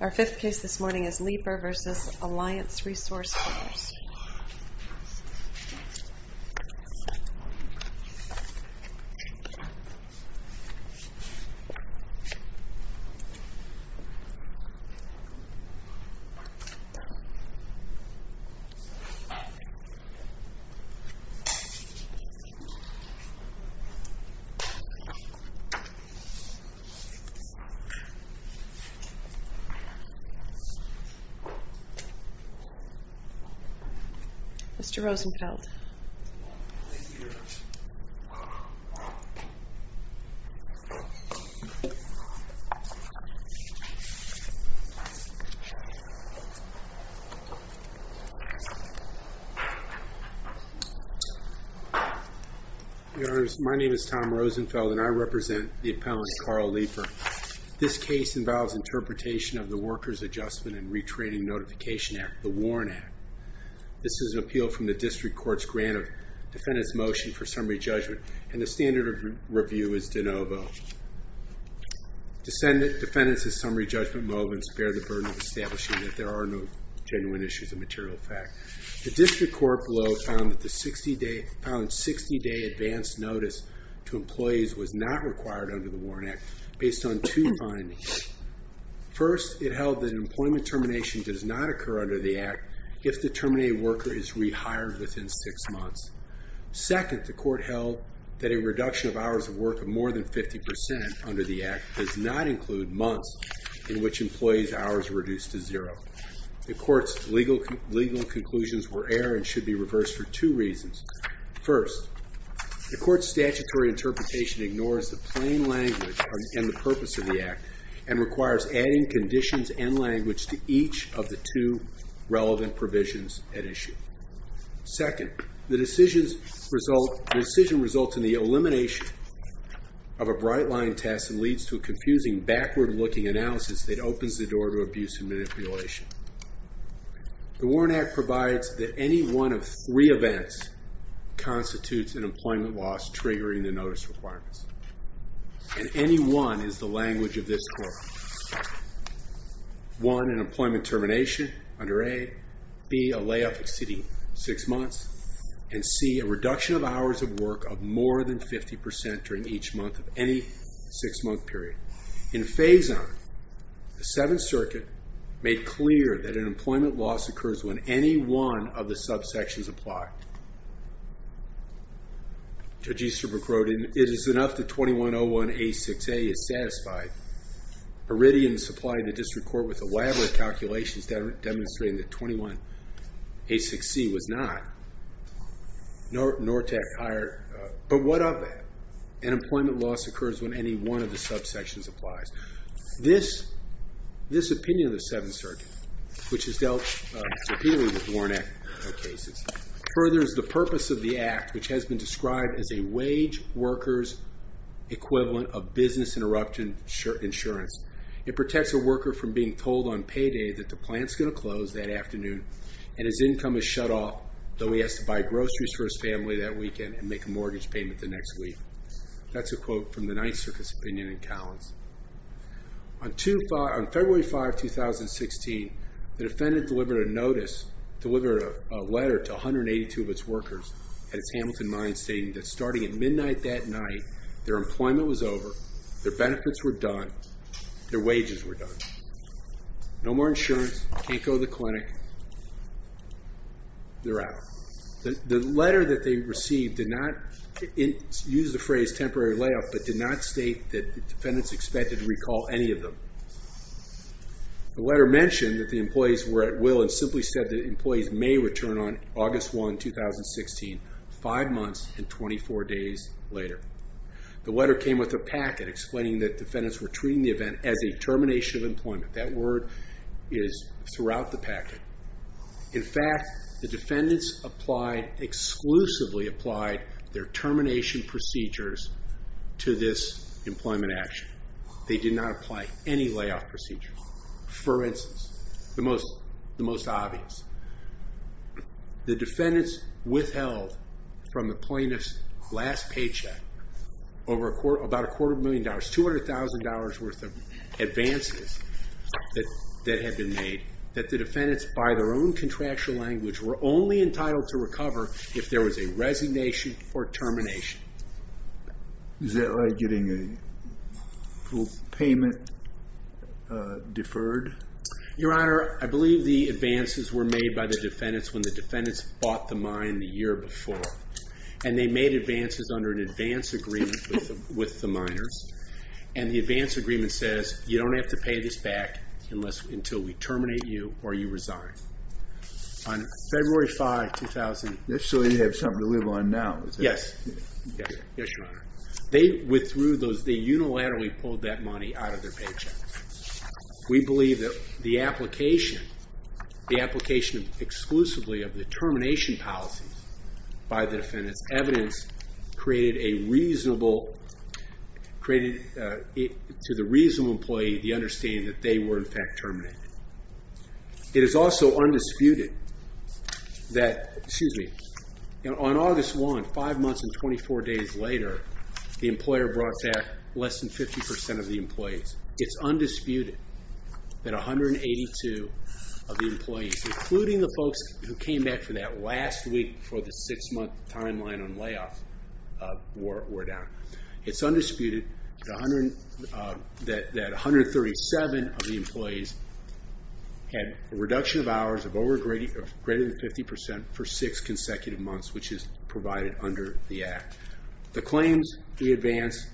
Our fifth case this morning is Leeper v. Alliance Resource Partners Tom Rosenfeld v. Alliance Resource Partners This case involves interpretation of the Workers' Adjustment and Retraining Notification Act, the WARN Act. This is an appeal from the District Court's grant of defendant's motion for summary judgment, and the standard of review is de novo. Defendants' summary judgment movements bear the burden of establishing that there are no genuine issues of material effect. The District Court below found that 60-day advance notice to employees was not required under the WARN Act based on two findings. First, it held that employment termination does not occur under the Act if the terminated worker is rehired within six months. Second, the Court held that a reduction of hours of work of more than 50% under the Act does not include months in which employees' hours are reduced to zero. The Court's legal conclusions were air and should be reversed for two reasons. First, the Court's statutory interpretation ignores the plain language and the purpose of the Act and requires adding conditions and language to each of the two relevant provisions at issue. Second, the decision results in the elimination of a bright-line test and leads to a confusing, backward-looking analysis that opens the door to abuse and manipulation. The WARN Act provides that any one of three events constitutes an employment loss triggering the notice requirements, and any one is the language of this Court. One, an employment termination under A. B, a layoff exceeding six months. And C, a reduction of hours of work of more than 50% during each month of any six-month period. In phase I, the Seventh Circuit made clear that an employment loss occurs when any one of the subsections apply. Judge Easterbrook wrote, and it is enough that 2101A6A is satisfied. Iridium supplied the District Court with elaborate calculations demonstrating that 2101A6C was not. But what of it? An employment loss occurs when any one of the subsections applies. This opinion of the Seventh Circuit, which is dealt severely with WARN Act cases, furthers the purpose of the Act, which has been described as a wage worker's equivalent of business interruption insurance. It protects a worker from being told on payday that the plant's going to close that afternoon and his income is shut off, though he has to buy groceries for his family that weekend and make a mortgage payment the next week. That's a quote from the Ninth Circuit's opinion in Cowens. On February 5, 2016, the defendant delivered a notice, delivered a letter to 182 of its workers at its Hamilton mine stating that starting at midnight that night, their employment was over, their benefits were done, their wages were done. No more insurance, can't go to the clinic, they're out. The letter that they received did not use the phrase temporary layoff, but did not state that defendants expected to recall any of them. The letter mentioned that the employees were at will and simply said that employees may return on August 1, 2016, five months and 24 days later. The letter came with a packet explaining that defendants were treating the event as a termination of employment. That word is throughout the packet. In fact, the defendants exclusively applied their termination procedures to this employment action. They did not apply any layoff procedures. For instance, the most obvious, the defendants withheld from the plaintiff's last paycheck about a quarter of a million dollars, $200,000 worth of advances that had been made that the defendants, by their own contractual language, were only entitled to recover if there was a resignation or termination. Is that like getting a full payment deferred? Your Honor, I believe the advances were made by the defendants when the defendants bought the mine the year before. And they made advances under an advance agreement with the miners. And the advance agreement says, you don't have to pay this back until we terminate you or you resign. On February 5, 2016... So you have something to live on now? Yes, Your Honor. They unilaterally pulled that money out of their paycheck. We believe that the application, the application exclusively of the termination policies by the defendants' evidence created a reasonable... created to the reasonable employee the understanding that they were in fact terminated. It is also undisputed that... Excuse me. On August 1, five months and 24 days later, the employer brought back less than 50% of the employees. It's undisputed that 182 of the employees, including the folks who came back for that last week before the six-month timeline on layoff wore down. It's undisputed that 137 of the employees had a reduction of hours of greater than 50% for six consecutive months, which is provided under the Act. The claims we advance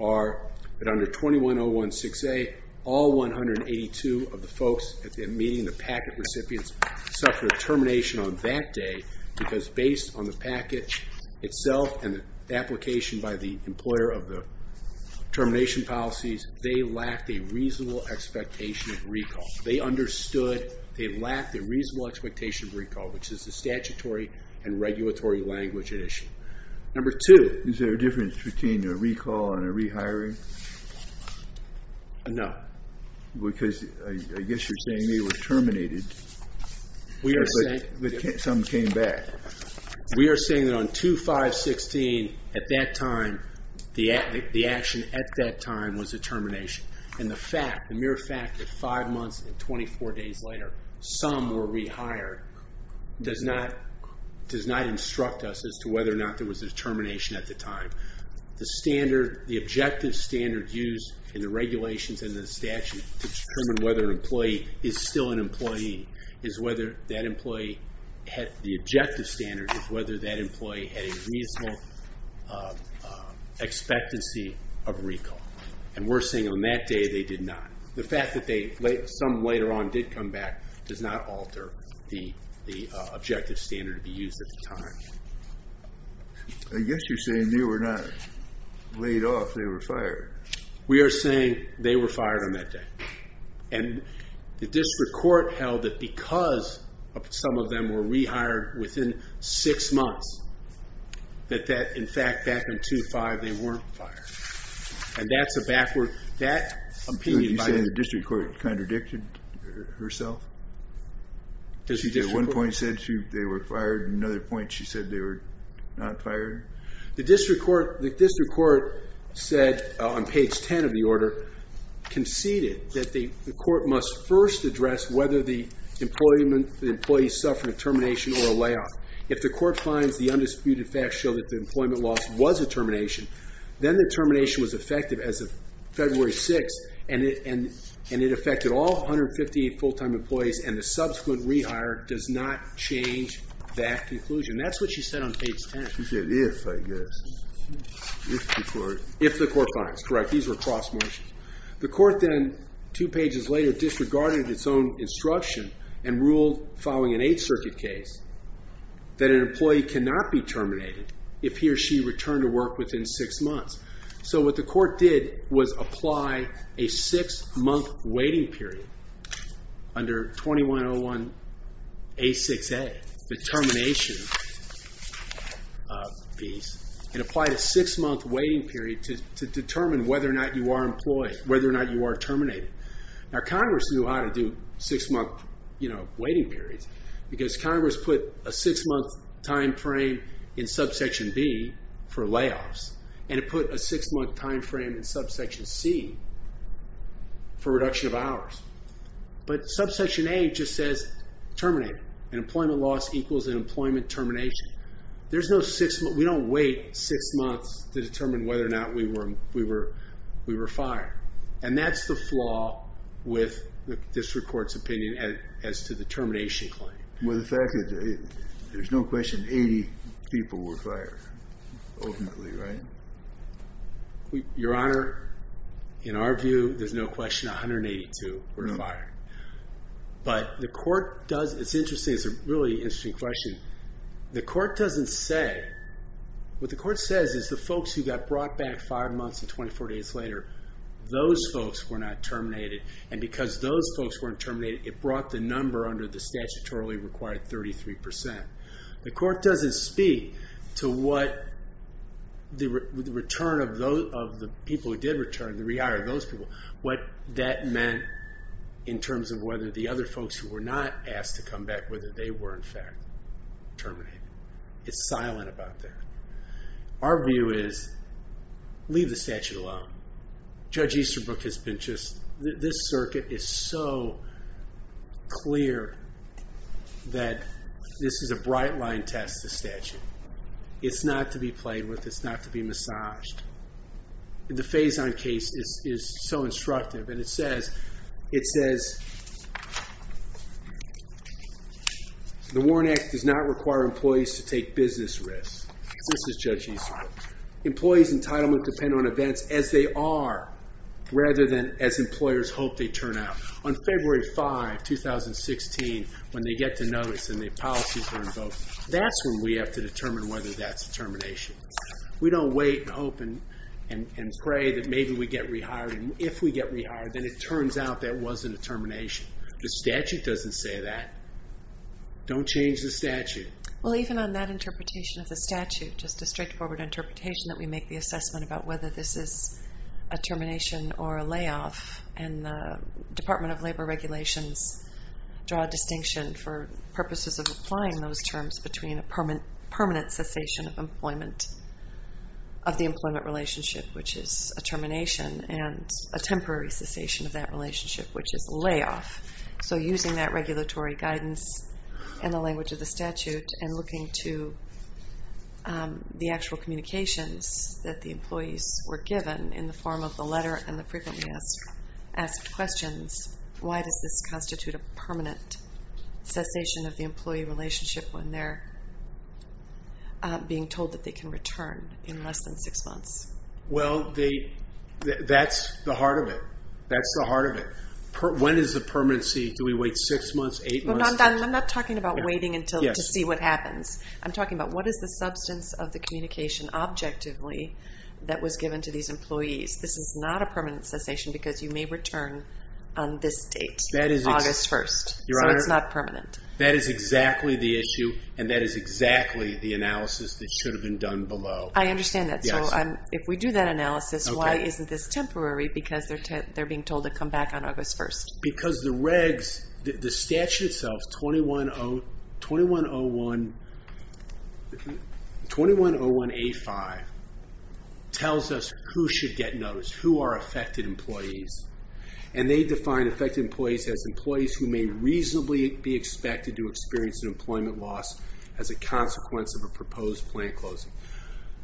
are that under 21016A, all 182 of the folks at the meeting, including the packet recipients, suffered termination on that day because based on the package itself and the application by the employer of the termination policies, they lacked a reasonable expectation of recall. They understood they lacked a reasonable expectation of recall, which is the statutory and regulatory language at issue. Number two... Is there a difference between a recall and a rehiring? No. Because I guess you're saying they were terminated, but some came back. We are saying that on 2516, at that time, the action at that time was a termination. And the fact, the mere fact that five months and 24 days later, some were rehired, does not instruct us as to whether or not there was a termination at the time. The standard, the objective standard used in the regulations and the statute to determine whether an employee is still an employee is whether that employee, the objective standard is whether that employee had a reasonable expectancy of recall. And we're saying on that day they did not. The fact that some later on did come back does not alter the objective standard to be used at the time. I guess you're saying they were not laid off, they were fired. We are saying they were fired on that day. And the district court held that because some of them were rehired within six months, that in fact back on 25, they weren't fired. And that's a backward, that opinion... You're saying the district court contradicted herself? At one point she said they were fired, at another point she said they were not fired? The district court said on page 10 of the order, conceded that the court must first address whether the employee suffered a termination or a layoff. If the court finds the undisputed facts show that the employment loss was a termination, then the termination was effective as of February 6th, and it affected all 158 full-time employees, and the subsequent rehire does not change that conclusion. That's what she said on page 10. She said if, I guess. If the court finds. If the court finds, correct. These were cross motions. The court then, two pages later, disregarded its own instruction and ruled following an Eighth Circuit case that an employee cannot be terminated if he or she returned to work within six months. So what the court did was apply a six-month waiting period under 2101A6A, the termination piece, and applied a six-month waiting period to determine whether or not you are employed, whether or not you are terminated. Now Congress knew how to do six-month waiting periods because Congress put a six-month time frame in subsection B for layoffs, and it put a six-month time frame in subsection C for reduction of hours. But subsection A just says terminate. An employment loss equals an employment termination. There's no six months. We don't wait six months to determine whether or not we were fired, and that's the flaw with this court's opinion as to the termination claim. Well, the fact that there's no question 80 people were fired ultimately, right? Your Honor, in our view, there's no question 182 were fired. But the court does—it's interesting. It's a really interesting question. The court doesn't say—what the court says is the folks who got brought back five months and 24 days later, those folks were not terminated, and because those folks weren't terminated, it brought the number under the statutorily required 33%. The court doesn't speak to what the return of the people who did return, the re-hire of those people, what that meant in terms of whether the other folks who were not asked to come back, whether they were in fact terminated. It's silent about that. Our view is leave the statute alone. Judge Easterbrook has been just—this circuit is so clear that this is a bright-line test, the statute. It's not to be played with. It's not to be massaged. The Faison case is so instructive, and it says, the Warren Act does not require employees to take business risks. This is Judge Easterbrook. Employees' entitlement depend on events as they are rather than as employers hope they turn out. On February 5, 2016, when they get to notice and the policies are invoked, that's when we have to determine whether that's a termination. We don't wait and hope and pray that maybe we get rehired, and if we get rehired, then it turns out that wasn't a termination. The statute doesn't say that. Don't change the statute. Well, even on that interpretation of the statute, just a straightforward interpretation that we make the assessment about whether this is a termination or a layoff, and the Department of Labor regulations draw a distinction for purposes of applying those terms between a permanent cessation of employment, of the employment relationship, which is a termination, and a temporary cessation of that relationship, which is a layoff. So using that regulatory guidance and the language of the statute and looking to the actual communications that the employees were given in the form of the letter and the frequently asked questions, why does this constitute a permanent cessation of the employee relationship when they're being told that they can return in less than six months? Well, that's the heart of it. That's the heart of it. When is the permanency? Do we wait six months, eight months? I'm not talking about waiting to see what happens. I'm talking about what is the substance of the communication objectively that was given to these employees. This is not a permanent cessation because you may return on this date, August 1st. So it's not permanent. That is exactly the issue, and that is exactly the analysis that should have been done below. I understand that. So if we do that analysis, why isn't this temporary? Because they're being told to come back on August 1st. Because the regs, the statute itself, 2101A5, tells us who should get notice, who are affected employees, and they define affected employees as employees who may reasonably be expected to experience an employment loss as a consequence of a proposed plan closing.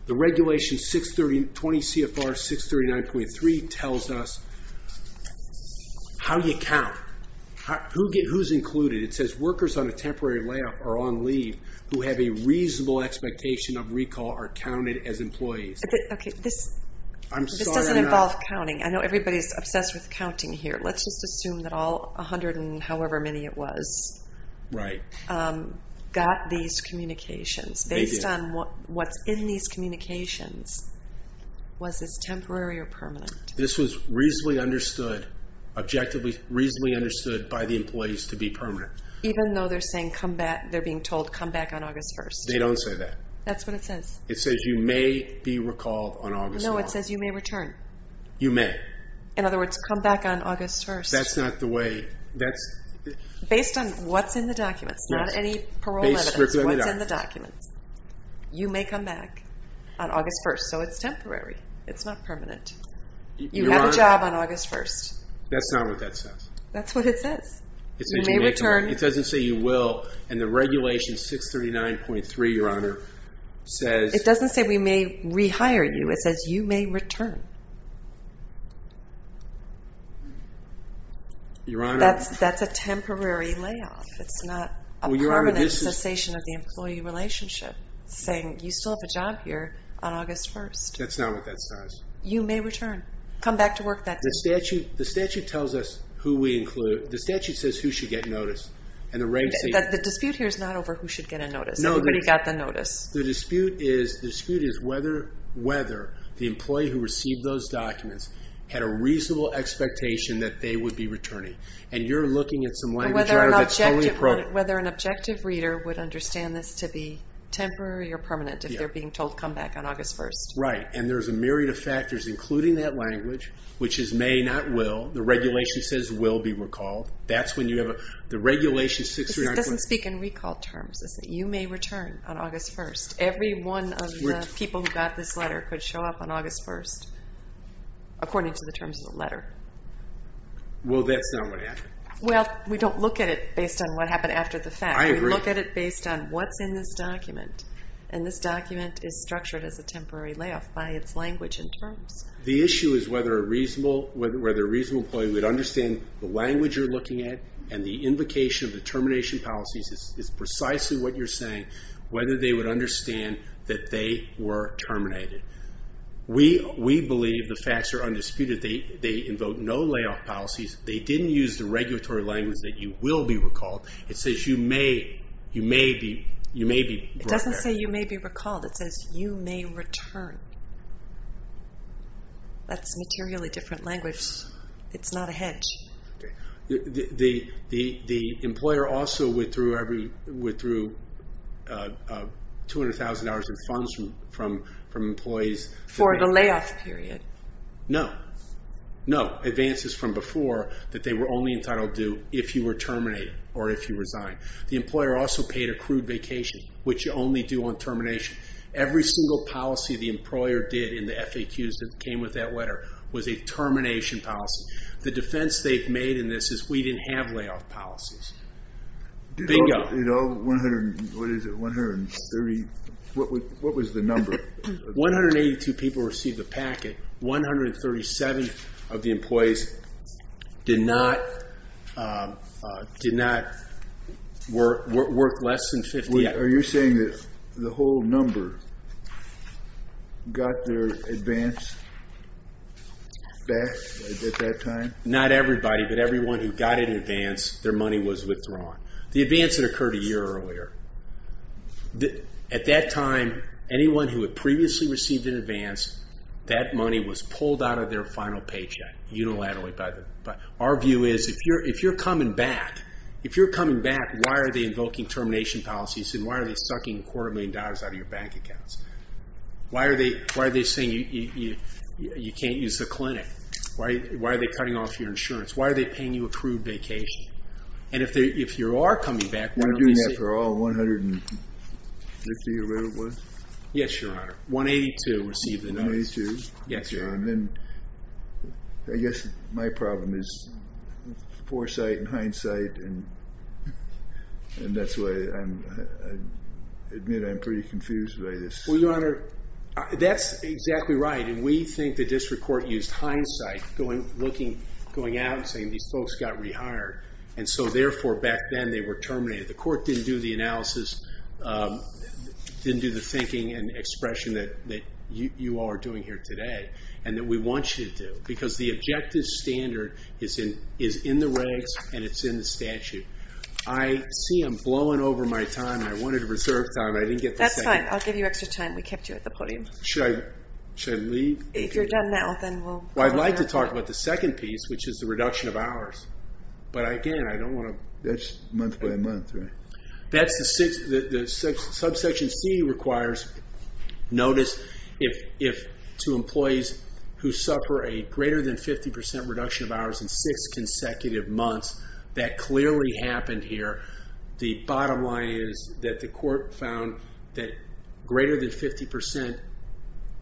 The regulation 630 CFR 639.3 tells us how you count, who's included. It says workers on a temporary layoff or on leave who have a reasonable expectation of recall are counted as employees. Okay, this doesn't involve counting. I know everybody's obsessed with counting here. Let's just assume that all 100 and however many it was got these communications. Based on what's in these communications, was this temporary or permanent? This was reasonably understood, objectively reasonably understood by the employees to be permanent. Even though they're being told come back on August 1st. They don't say that. That's what it says. It says you may be recalled on August 1st. No, it says you may return. You may. In other words, come back on August 1st. That's not the way. Based on what's in the documents, not any parole evidence. What's in the documents. You may come back on August 1st. So it's temporary. It's not permanent. You have a job on August 1st. That's not what that says. That's what it says. You may return. It doesn't say you will. And the regulation 639.3, Your Honor, says. It doesn't say we may rehire you. It says you may return. Your Honor. That's a temporary layoff. It's not a permanent cessation of the employee relationship. Saying you still have a job here on August 1st. That's not what that says. You may return. Come back to work that day. The statute tells us who we include. The statute says who should get notice. The dispute here is not over who should get a notice. Nobody got the notice. The dispute is whether the employee who received those documents had a reasonable expectation that they would be returning. Whether an objective reader would understand this to be temporary or permanent if they're being told come back on August 1st. Right. And there's a myriad of factors, including that language, which is may not will. The regulation says will be recalled. That's when you have a... It doesn't speak in recall terms. It says you may return on August 1st. Every one of the people who got this letter could show up on August 1st, according to the terms of the letter. Well, that's not what happened. Well, we don't look at it based on what happened after the fact. I agree. We look at it based on what's in this document. And this document is structured as a temporary layoff by its language and terms. The issue is whether a reasonable employee would understand the language you're looking at and the invocation of the termination policies is precisely what you're saying, whether they would understand that they were terminated. We believe the facts are undisputed. They invoke no layoff policies. They didn't use the regulatory language that you will be recalled. It says you may be brought back. It doesn't say you may be recalled. It says you may return. That's materially different language. It's not a hedge. The employer also withdrew $200,000 in funds from employees... For the layoff period. No. No. Advances from before that they were only entitled to if you were terminated or if you resigned. The employer also paid accrued vacation, which you only do on termination. Every single policy the employer did in the FAQs that came with that letter was a termination policy. The defense they've made in this is we didn't have layoff policies. Bingo. What was the number? 182 people received the packet. 137 of the employees did not work less than 50 hours. Are you saying that the whole number got their advance back at that time? Not everybody, but everyone who got it in advance, their money was withdrawn. The advance had occurred a year earlier. At that time, anyone who had previously received an advance, that money was pulled out of their final paycheck unilaterally. Our view is if you're coming back, why are they invoking termination policies and why are they sucking a quarter of a million dollars out of your bank accounts? Why are they saying you can't use the clinic? Why are they cutting off your insurance? Why are they paying you accrued vacation? And if you are coming back, why don't they say— You're doing that for all 150 or whatever it was? Yes, Your Honor. 182 received the notice. 182? Yes, Your Honor. Then I guess my problem is foresight and hindsight, and that's why I admit I'm pretty confused by this. Well, Your Honor, that's exactly right. We think the district court used hindsight going out and saying these folks got rehired, and so therefore back then they were terminated. The court didn't do the analysis, didn't do the thinking and expression that you all are doing here today and that we want you to do because the objective standard is in the regs and it's in the statute. I see I'm blowing over my time. I wanted to reserve time, but I didn't get the second. That's fine. I'll give you extra time. We kept you at the podium. Should I leave? If you're done now, then we'll— Well, I'd like to talk about the second piece, which is the reduction of hours, but again, I don't want to— That's month by month, right? That's the subsection C requires notice if to employees who suffer a greater than 50% reduction of hours in six consecutive months. That clearly happened here. The bottom line is that the court found that greater than 50%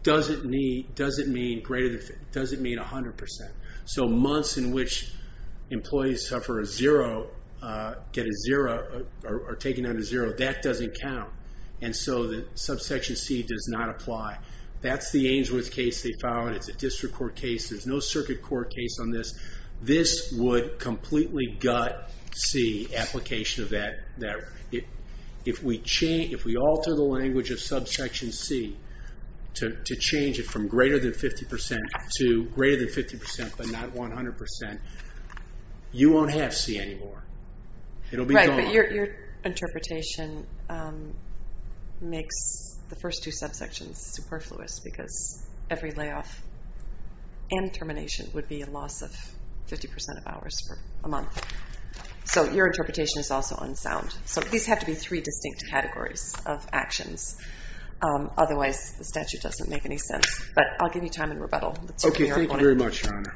doesn't mean 100%, so months in which employees suffer a zero, get a zero or are taken out of zero, that doesn't count, and so the subsection C does not apply. That's the Ainsworth case they found. It's a district court case. There's no circuit court case on this. This would completely gut C application of that. If we alter the language of subsection C to change it from greater than 50% to greater than 50% but not 100%, you won't have C anymore. It'll be gone. Right, but your interpretation makes the first two subsections superfluous because every layoff and termination would be a loss of 50% of hours for a month, so your interpretation is also unsound. So these have to be three distinct categories of actions. Otherwise, the statute doesn't make any sense, but I'll give you time in rebuttal. Okay, thank you very much, Your Honor.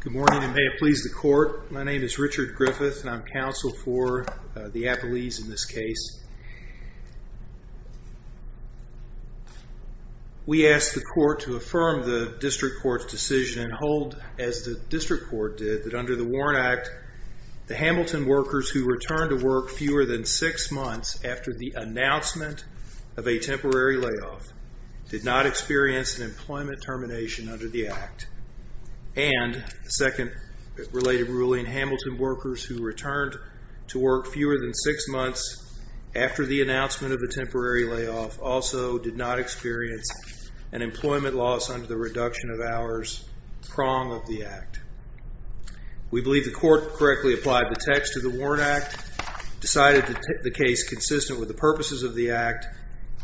Good morning, and may it please the court. My name is Richard Griffith, and I'm counsel for the Appellees in this case. We ask the court to affirm the district court's decision and hold, as the district court did, that under the Warren Act, the Hamilton workers who returned to work fewer than six months after the announcement of a temporary layoff did not experience an employment termination under the Act, and second related ruling, Hamilton workers who returned to work fewer than six months after the announcement of a temporary layoff also did not experience an employment loss under the reduction of hours prong of the Act. We believe the court correctly applied the text of the Warren Act, decided to take the case consistent with the purposes of the Act,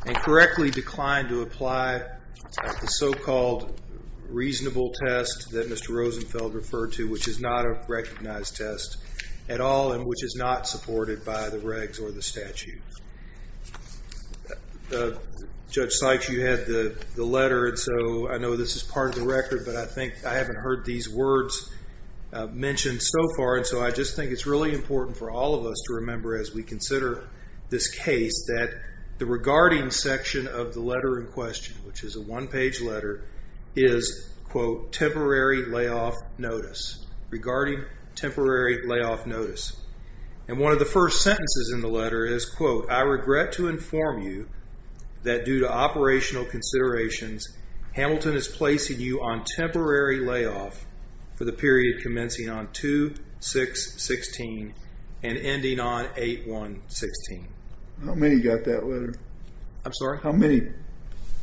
and correctly declined to apply the so-called reasonable test that Mr. Rosenfeld referred to, which is not a recognized test at all and which is not supported by the regs or the statutes. Judge Sykes, you had the letter, and so I know this is part of the record, but I think I haven't heard these words mentioned so far, and so I just think it's really important for all of us to remember as we consider this case that the regarding section of the letter in question, which is a one-page letter, is, quote, temporary layoff notice, regarding temporary layoff notice, and one of the first sentences in the letter is, quote, I regret to inform you that due to operational considerations, Hamilton is placing you on temporary layoff for the period commencing on 2-6-16 and ending on 8-1-16. How many got that letter? I'm sorry? How many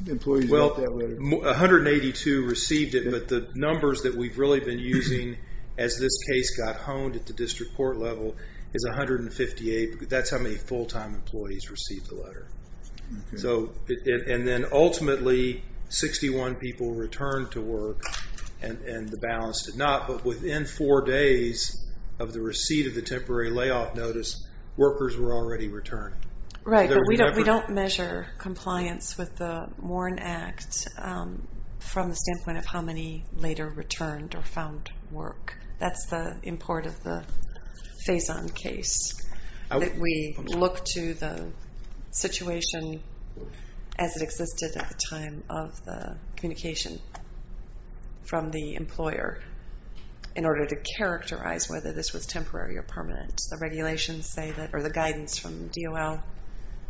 employees got that letter? Well, 182 received it, but the numbers that we've really been using as this case got honed at the district court level is 158. That's how many full-time employees received the letter, and then ultimately 61 people returned to work, and the balance did not, but within four days of the receipt of the temporary layoff notice, workers were already returning. Right, but we don't measure compliance with the Warren Act from the standpoint of how many later returned or found work. That's the import of the Faison case. We look to the situation as it existed at the time of the communication from the employer in order to characterize whether this was temporary or permanent. The regulations say that, or the guidance from DOL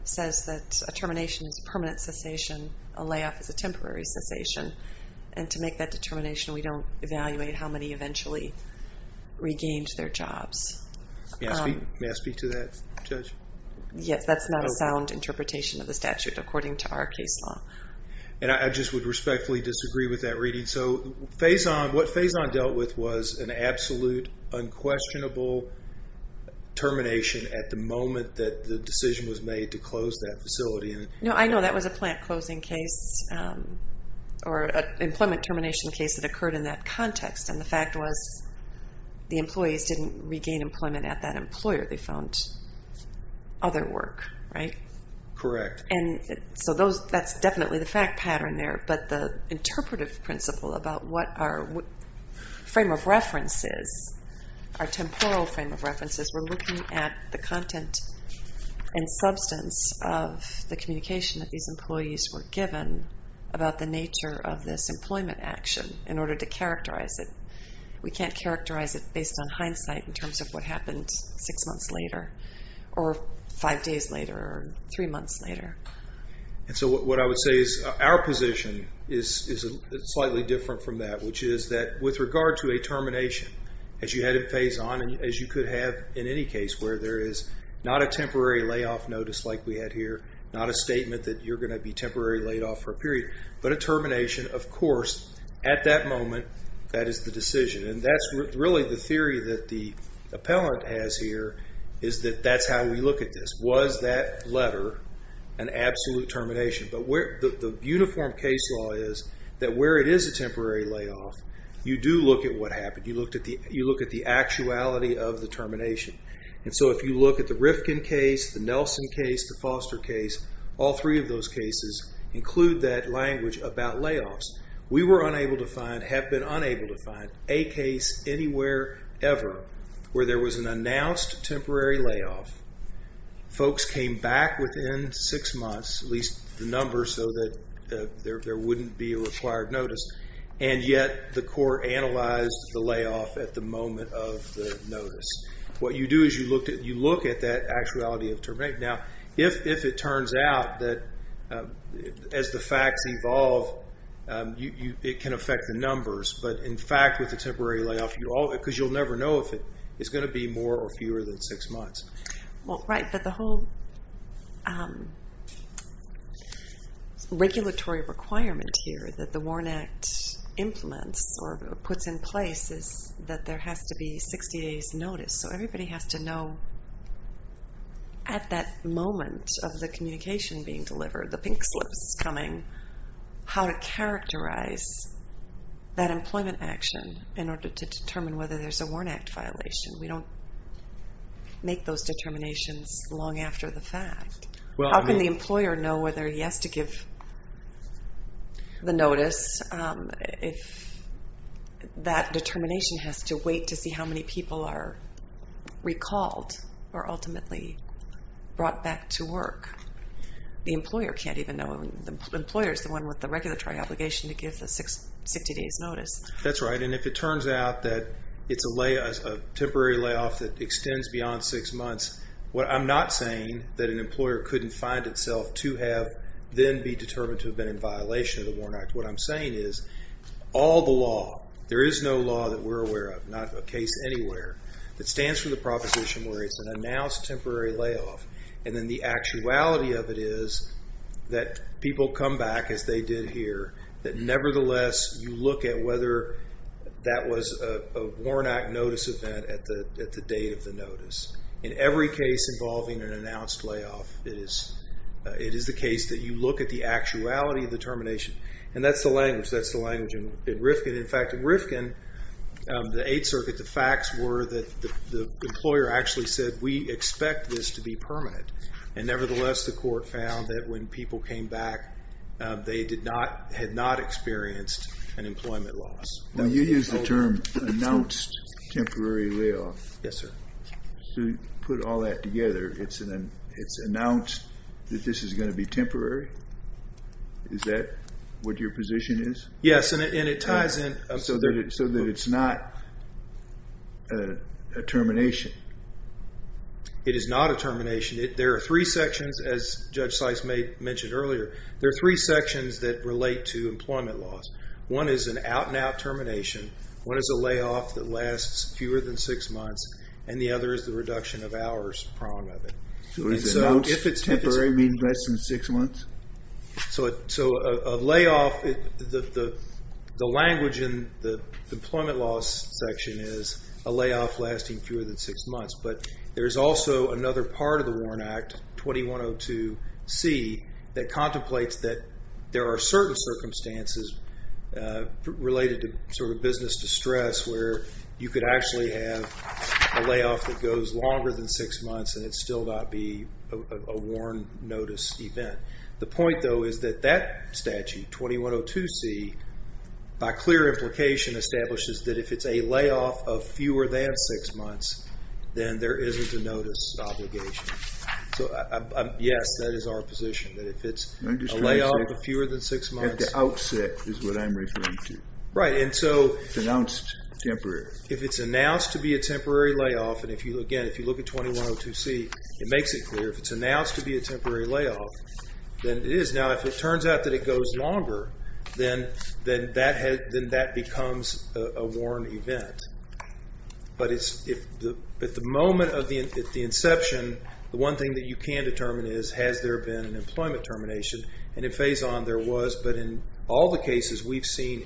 says that a termination is a permanent cessation, a layoff is a temporary cessation, and to make that determination, we don't evaluate how many eventually regained their jobs. May I speak to that, Judge? Yes, that's not a sound interpretation of the statute according to our case law. And I just would respectfully disagree with that reading. And so what Faison dealt with was an absolute, unquestionable termination at the moment that the decision was made to close that facility. No, I know that was a plant closing case or an employment termination case that occurred in that context, and the fact was the employees didn't regain employment at that employer. They found other work, right? Correct. And so that's definitely the fact pattern there, but the interpretive principle about what our frame of reference is, our temporal frame of reference is we're looking at the content and substance of the communication that these employees were given about the nature of this employment action in order to characterize it. We can't characterize it based on hindsight in terms of what happened six months later or five days later or three months later. And so what I would say is our position is slightly different from that, which is that with regard to a termination, as you had in Faison, as you could have in any case where there is not a temporary layoff notice like we had here, not a statement that you're going to be temporarily laid off for a period, but a termination. Of course, at that moment, that is the decision. And that's really the theory that the appellant has here is that that's how we look at this. Was that letter an absolute termination? But the uniform case law is that where it is a temporary layoff, you do look at what happened. You look at the actuality of the termination. And so if you look at the Rifkin case, the Nelson case, the Foster case, all three of those cases include that language about layoffs. We were unable to find, have been unable to find, a case anywhere, ever, where there was an announced temporary layoff. Folks came back within six months, at least the number so that there wouldn't be a required notice, and yet the court analyzed the layoff at the moment of the notice. What you do is you look at that actuality of termination. Now, if it turns out that as the facts evolve, it can affect the numbers, but in fact with the temporary layoff, because you'll never know if it's going to be more or fewer than six months. Well, right, but the whole regulatory requirement here that the WARN Act implements or puts in place is that there has to be 60 days notice. So everybody has to know at that moment of the communication being delivered, the pink slips coming, how to characterize that employment action in order to determine whether there's a WARN Act violation. We don't make those determinations long after the fact. How can the employer know whether he has to give the notice if that determination has to wait to see how many people are recalled or ultimately brought back to work? The employer can't even know. The employer is the one with the regulatory obligation to give the 60 days notice. That's right, and if it turns out that it's a temporary layoff that extends beyond six months, I'm not saying that an employer couldn't find itself to have then be determined to have been in violation of the WARN Act. What I'm saying is all the law, there is no law that we're aware of, not a case anywhere, that stands for the proposition where it's an announced temporary layoff, and then the actuality of it is that people come back, as they did here, that nevertheless you look at whether that was a WARN Act notice event at the date of the notice. In every case involving an announced layoff, it is the case that you look at the actuality of the termination, and that's the language. That's the language in Rifkin. In fact, in Rifkin, the Eighth Circuit, the facts were that the employer actually said, we expect this to be permanent, and nevertheless the court found that when people came back, they had not experienced an employment loss. Now, you used the term announced temporary layoff. Yes, sir. To put all that together, it's announced that this is going to be temporary? Is that what your position is? Yes, and it ties in. So that it's not a termination? It is not a termination. There are three sections, as Judge Sice mentioned earlier. There are three sections that relate to employment loss. One is an out-and-out termination. One is a layoff that lasts fewer than six months. And the other is the reduction of hours prong of it. So is announced temporary mean less than six months? So a layoff, the language in the employment loss section is a layoff lasting fewer than six months. But there's also another part of the Warren Act, 2102C, that contemplates that there are certain circumstances related to sort of business distress where you could actually have a layoff that goes longer than six months and it still not be a Warren notice event. The point, though, is that that statute, 2102C, by clear implication, establishes that if it's a layoff of fewer than six months, then there isn't a notice obligation. So, yes, that is our position, that if it's a layoff of fewer than six months. At the outset is what I'm referring to. Right, and so if it's announced to be a temporary layoff, and, again, if you look at 2102C, it makes it clear. If it's announced to be a temporary layoff, then it is. Now, if it turns out that it goes longer, then that becomes a Warren event. But at the moment of the inception, the one thing that you can determine is, has there been an employment termination? And in Phazon there was, but in all the cases we've seen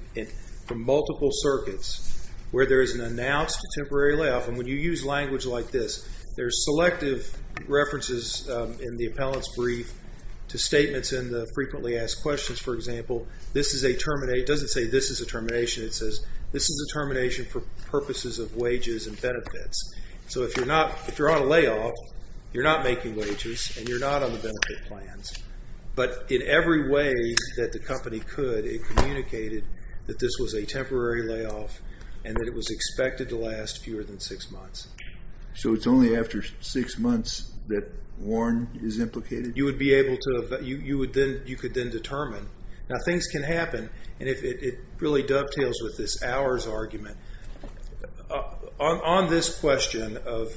from multiple circuits where there is an announced temporary layoff, and when you use language like this, there's selective references in the appellant's brief to statements in the frequently asked questions. For example, this is a termination. It doesn't say this is a termination. It says this is a termination for purposes of wages and benefits. So if you're on a layoff, you're not making wages, and you're not on the benefit plans. But in every way that the company could, it communicated that this was a temporary layoff and that it was expected to last fewer than six months. So it's only after six months that Warren is implicated? You would be able to, you could then determine. Now, things can happen, and it really dovetails with this hours argument. On this question of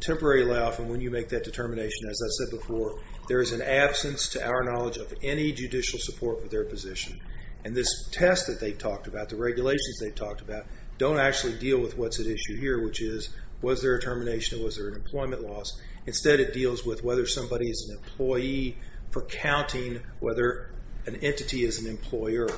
temporary layoff and when you make that determination, as I said before, there is an absence to our knowledge of any judicial support for their position. And this test that they've talked about, the regulations they've talked about, don't actually deal with what's at issue here, which is was there a termination or was there an employment loss. Instead it deals with whether somebody is an employee for counting whether an entity is an employer.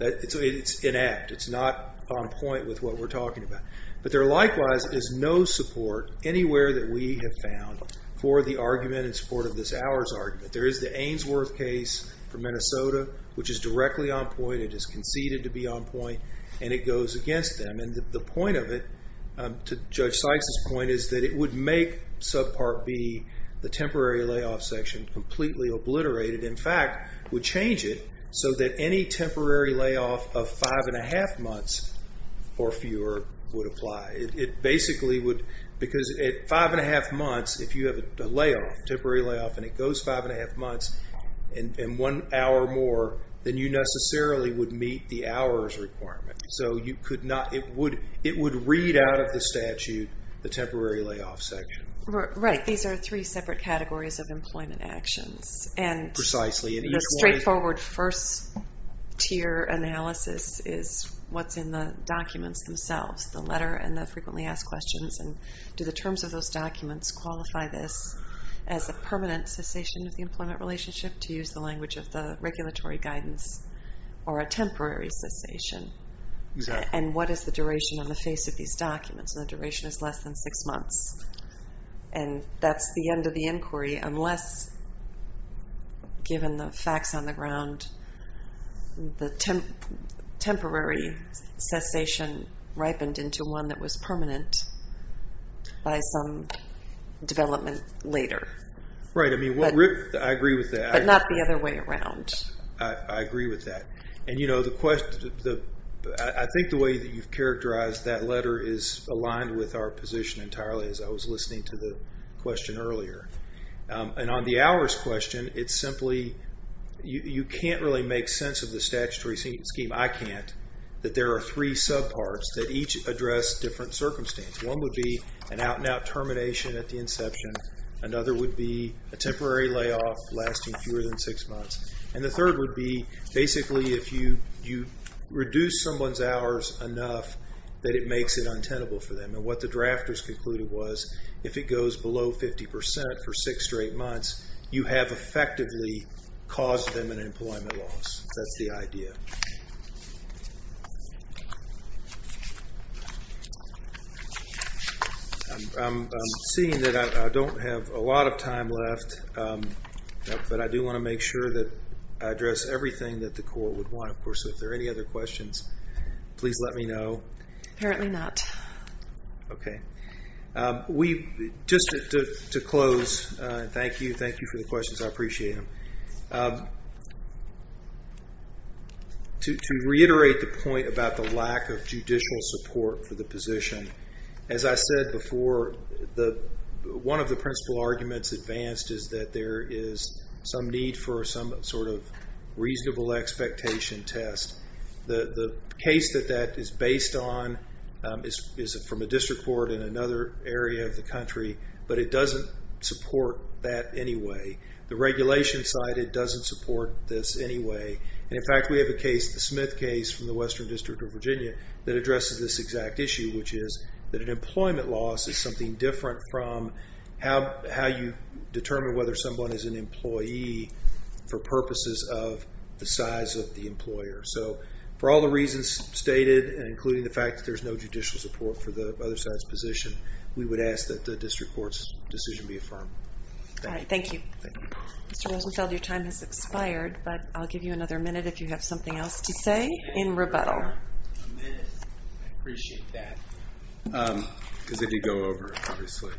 It's inact. It's not on point with what we're talking about. But there likewise is no support anywhere that we have found for the argument in support of this hours argument. There is the Ainsworth case from Minnesota, which is directly on point. It is conceded to be on point, and it goes against them. And the point of it, to Judge Sykes' point, is that it would make subpart B, the temporary layoff section, completely obliterated. In fact, would change it so that any temporary layoff of five-and-a-half months or fewer would apply. It basically would, because at five-and-a-half months, if you have a layoff, temporary layoff, and it goes five-and-a-half months and one hour more, then you necessarily would meet the hours requirement. So you could not, it would read out of the statute the temporary layoff section. Right. These are three separate categories of employment actions. Precisely. And the straightforward first-tier analysis is what's in the documents themselves, the letter and the frequently asked questions. And do the terms of those documents qualify this as a permanent cessation of the employment relationship, to use the language of the regulatory guidance, or a temporary cessation? Exactly. And what is the duration on the face of these documents? And the duration is less than six months. And that's the end of the inquiry, unless, given the facts on the ground, the temporary cessation ripened into one that was permanent by some development later. Right. I agree with that. But not the other way around. I agree with that. And, you know, I think the way that you've characterized that letter is aligned with our position entirely, as I was listening to the question earlier. And on the hours question, it's simply, you can't really make sense of the statutory scheme, I can't, that there are three subparts that each address different circumstances. One would be an out-and-out termination at the inception. Another would be a temporary layoff lasting fewer than six months. And the third would be, basically, if you reduce someone's hours enough that it makes it untenable for them. And what the drafters concluded was, if it goes below 50 percent for six to eight months, you have effectively caused them an employment loss. That's the idea. I'm seeing that I don't have a lot of time left, but I do want to make sure that I address everything that the court would want. Of course, if there are any other questions, please let me know. Apparently not. Okay. Just to close, thank you. Thank you for the questions. I appreciate them. To reiterate the point about the lack of judicial support for the position, as I said before, one of the principal arguments advanced is that there is some need for some sort of reasonable expectation test. The case that that is based on is from a district court in another area of the country, but it doesn't support that anyway. The regulation cited doesn't support this anyway. And, in fact, we have a case, the Smith case from the Western District of Virginia, that addresses this exact issue, which is that an employment loss is something different from how you determine whether someone is an employee for purposes of the size of the employer. So for all the reasons stated, including the fact that there's no judicial support for the other side's position, we would ask that the district court's decision be affirmed. All right. Thank you. Mr. Rosenfeld, your time has expired, but I'll give you another minute if you have something else to say in rebuttal. I appreciate that, because I could go over it, obviously.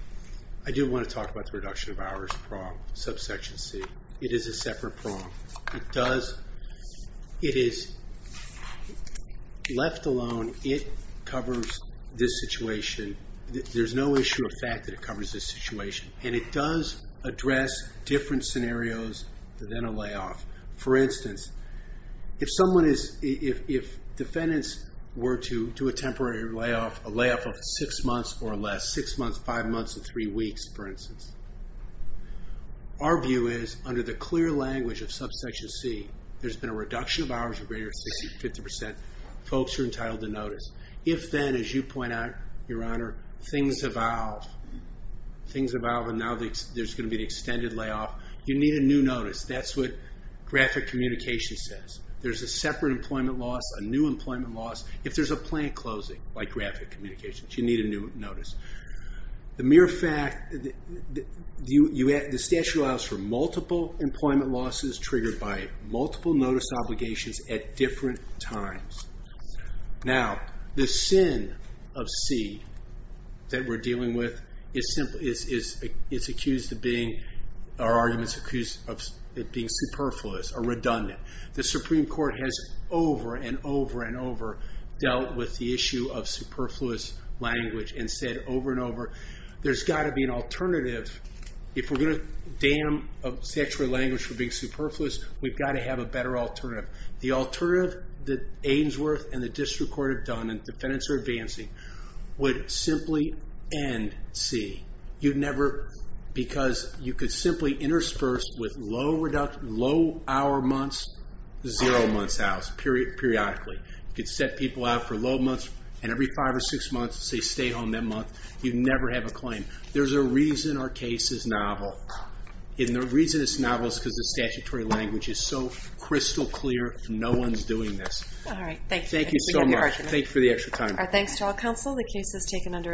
I do want to talk about the reduction of hours prong, subsection C. It is a separate prong. It is left alone. It covers this situation. There's no issue of fact that it covers this situation, and it does address different scenarios than a layoff. For instance, if defendants were to do a temporary layoff, a layoff of six months or less, six months, five months, and three weeks, for instance, our view is, under the clear language of subsection C, there's been a reduction of hours of greater than 60% to 50%. Folks are entitled to notice. If then, as you point out, Your Honor, things evolve, and now there's going to be an extended layoff, you need a new notice. That's what graphic communication says. There's a separate employment loss, a new employment loss. If there's a plant closing, like graphic communication, you need a new notice. The statute allows for multiple employment losses triggered by multiple notice obligations at different times. Now, the sin of C that we're dealing with is it's accused of being, our argument's accused of it being superfluous or redundant. The Supreme Court has over and over and over dealt with the issue of superfluous language and said over and over, there's got to be an alternative. If we're going to damn statutory language for being superfluous, we've got to have a better alternative. The alternative that Ainsworth and the District Court have done, and defendants are advancing, would simply end C. You'd never, because you could simply intersperse with low-hour months, zero-months hours, periodically. You could set people out for low months, and every five or six months, say, stay home that month. You'd never have a claim. There's a reason our case is novel. And the reason it's novel is because the statutory language is so crystal clear, no one's doing this. All right, thank you. Thank you so much. Thank you for the extra time. Our thanks to all counsel. The case is taken under advisement.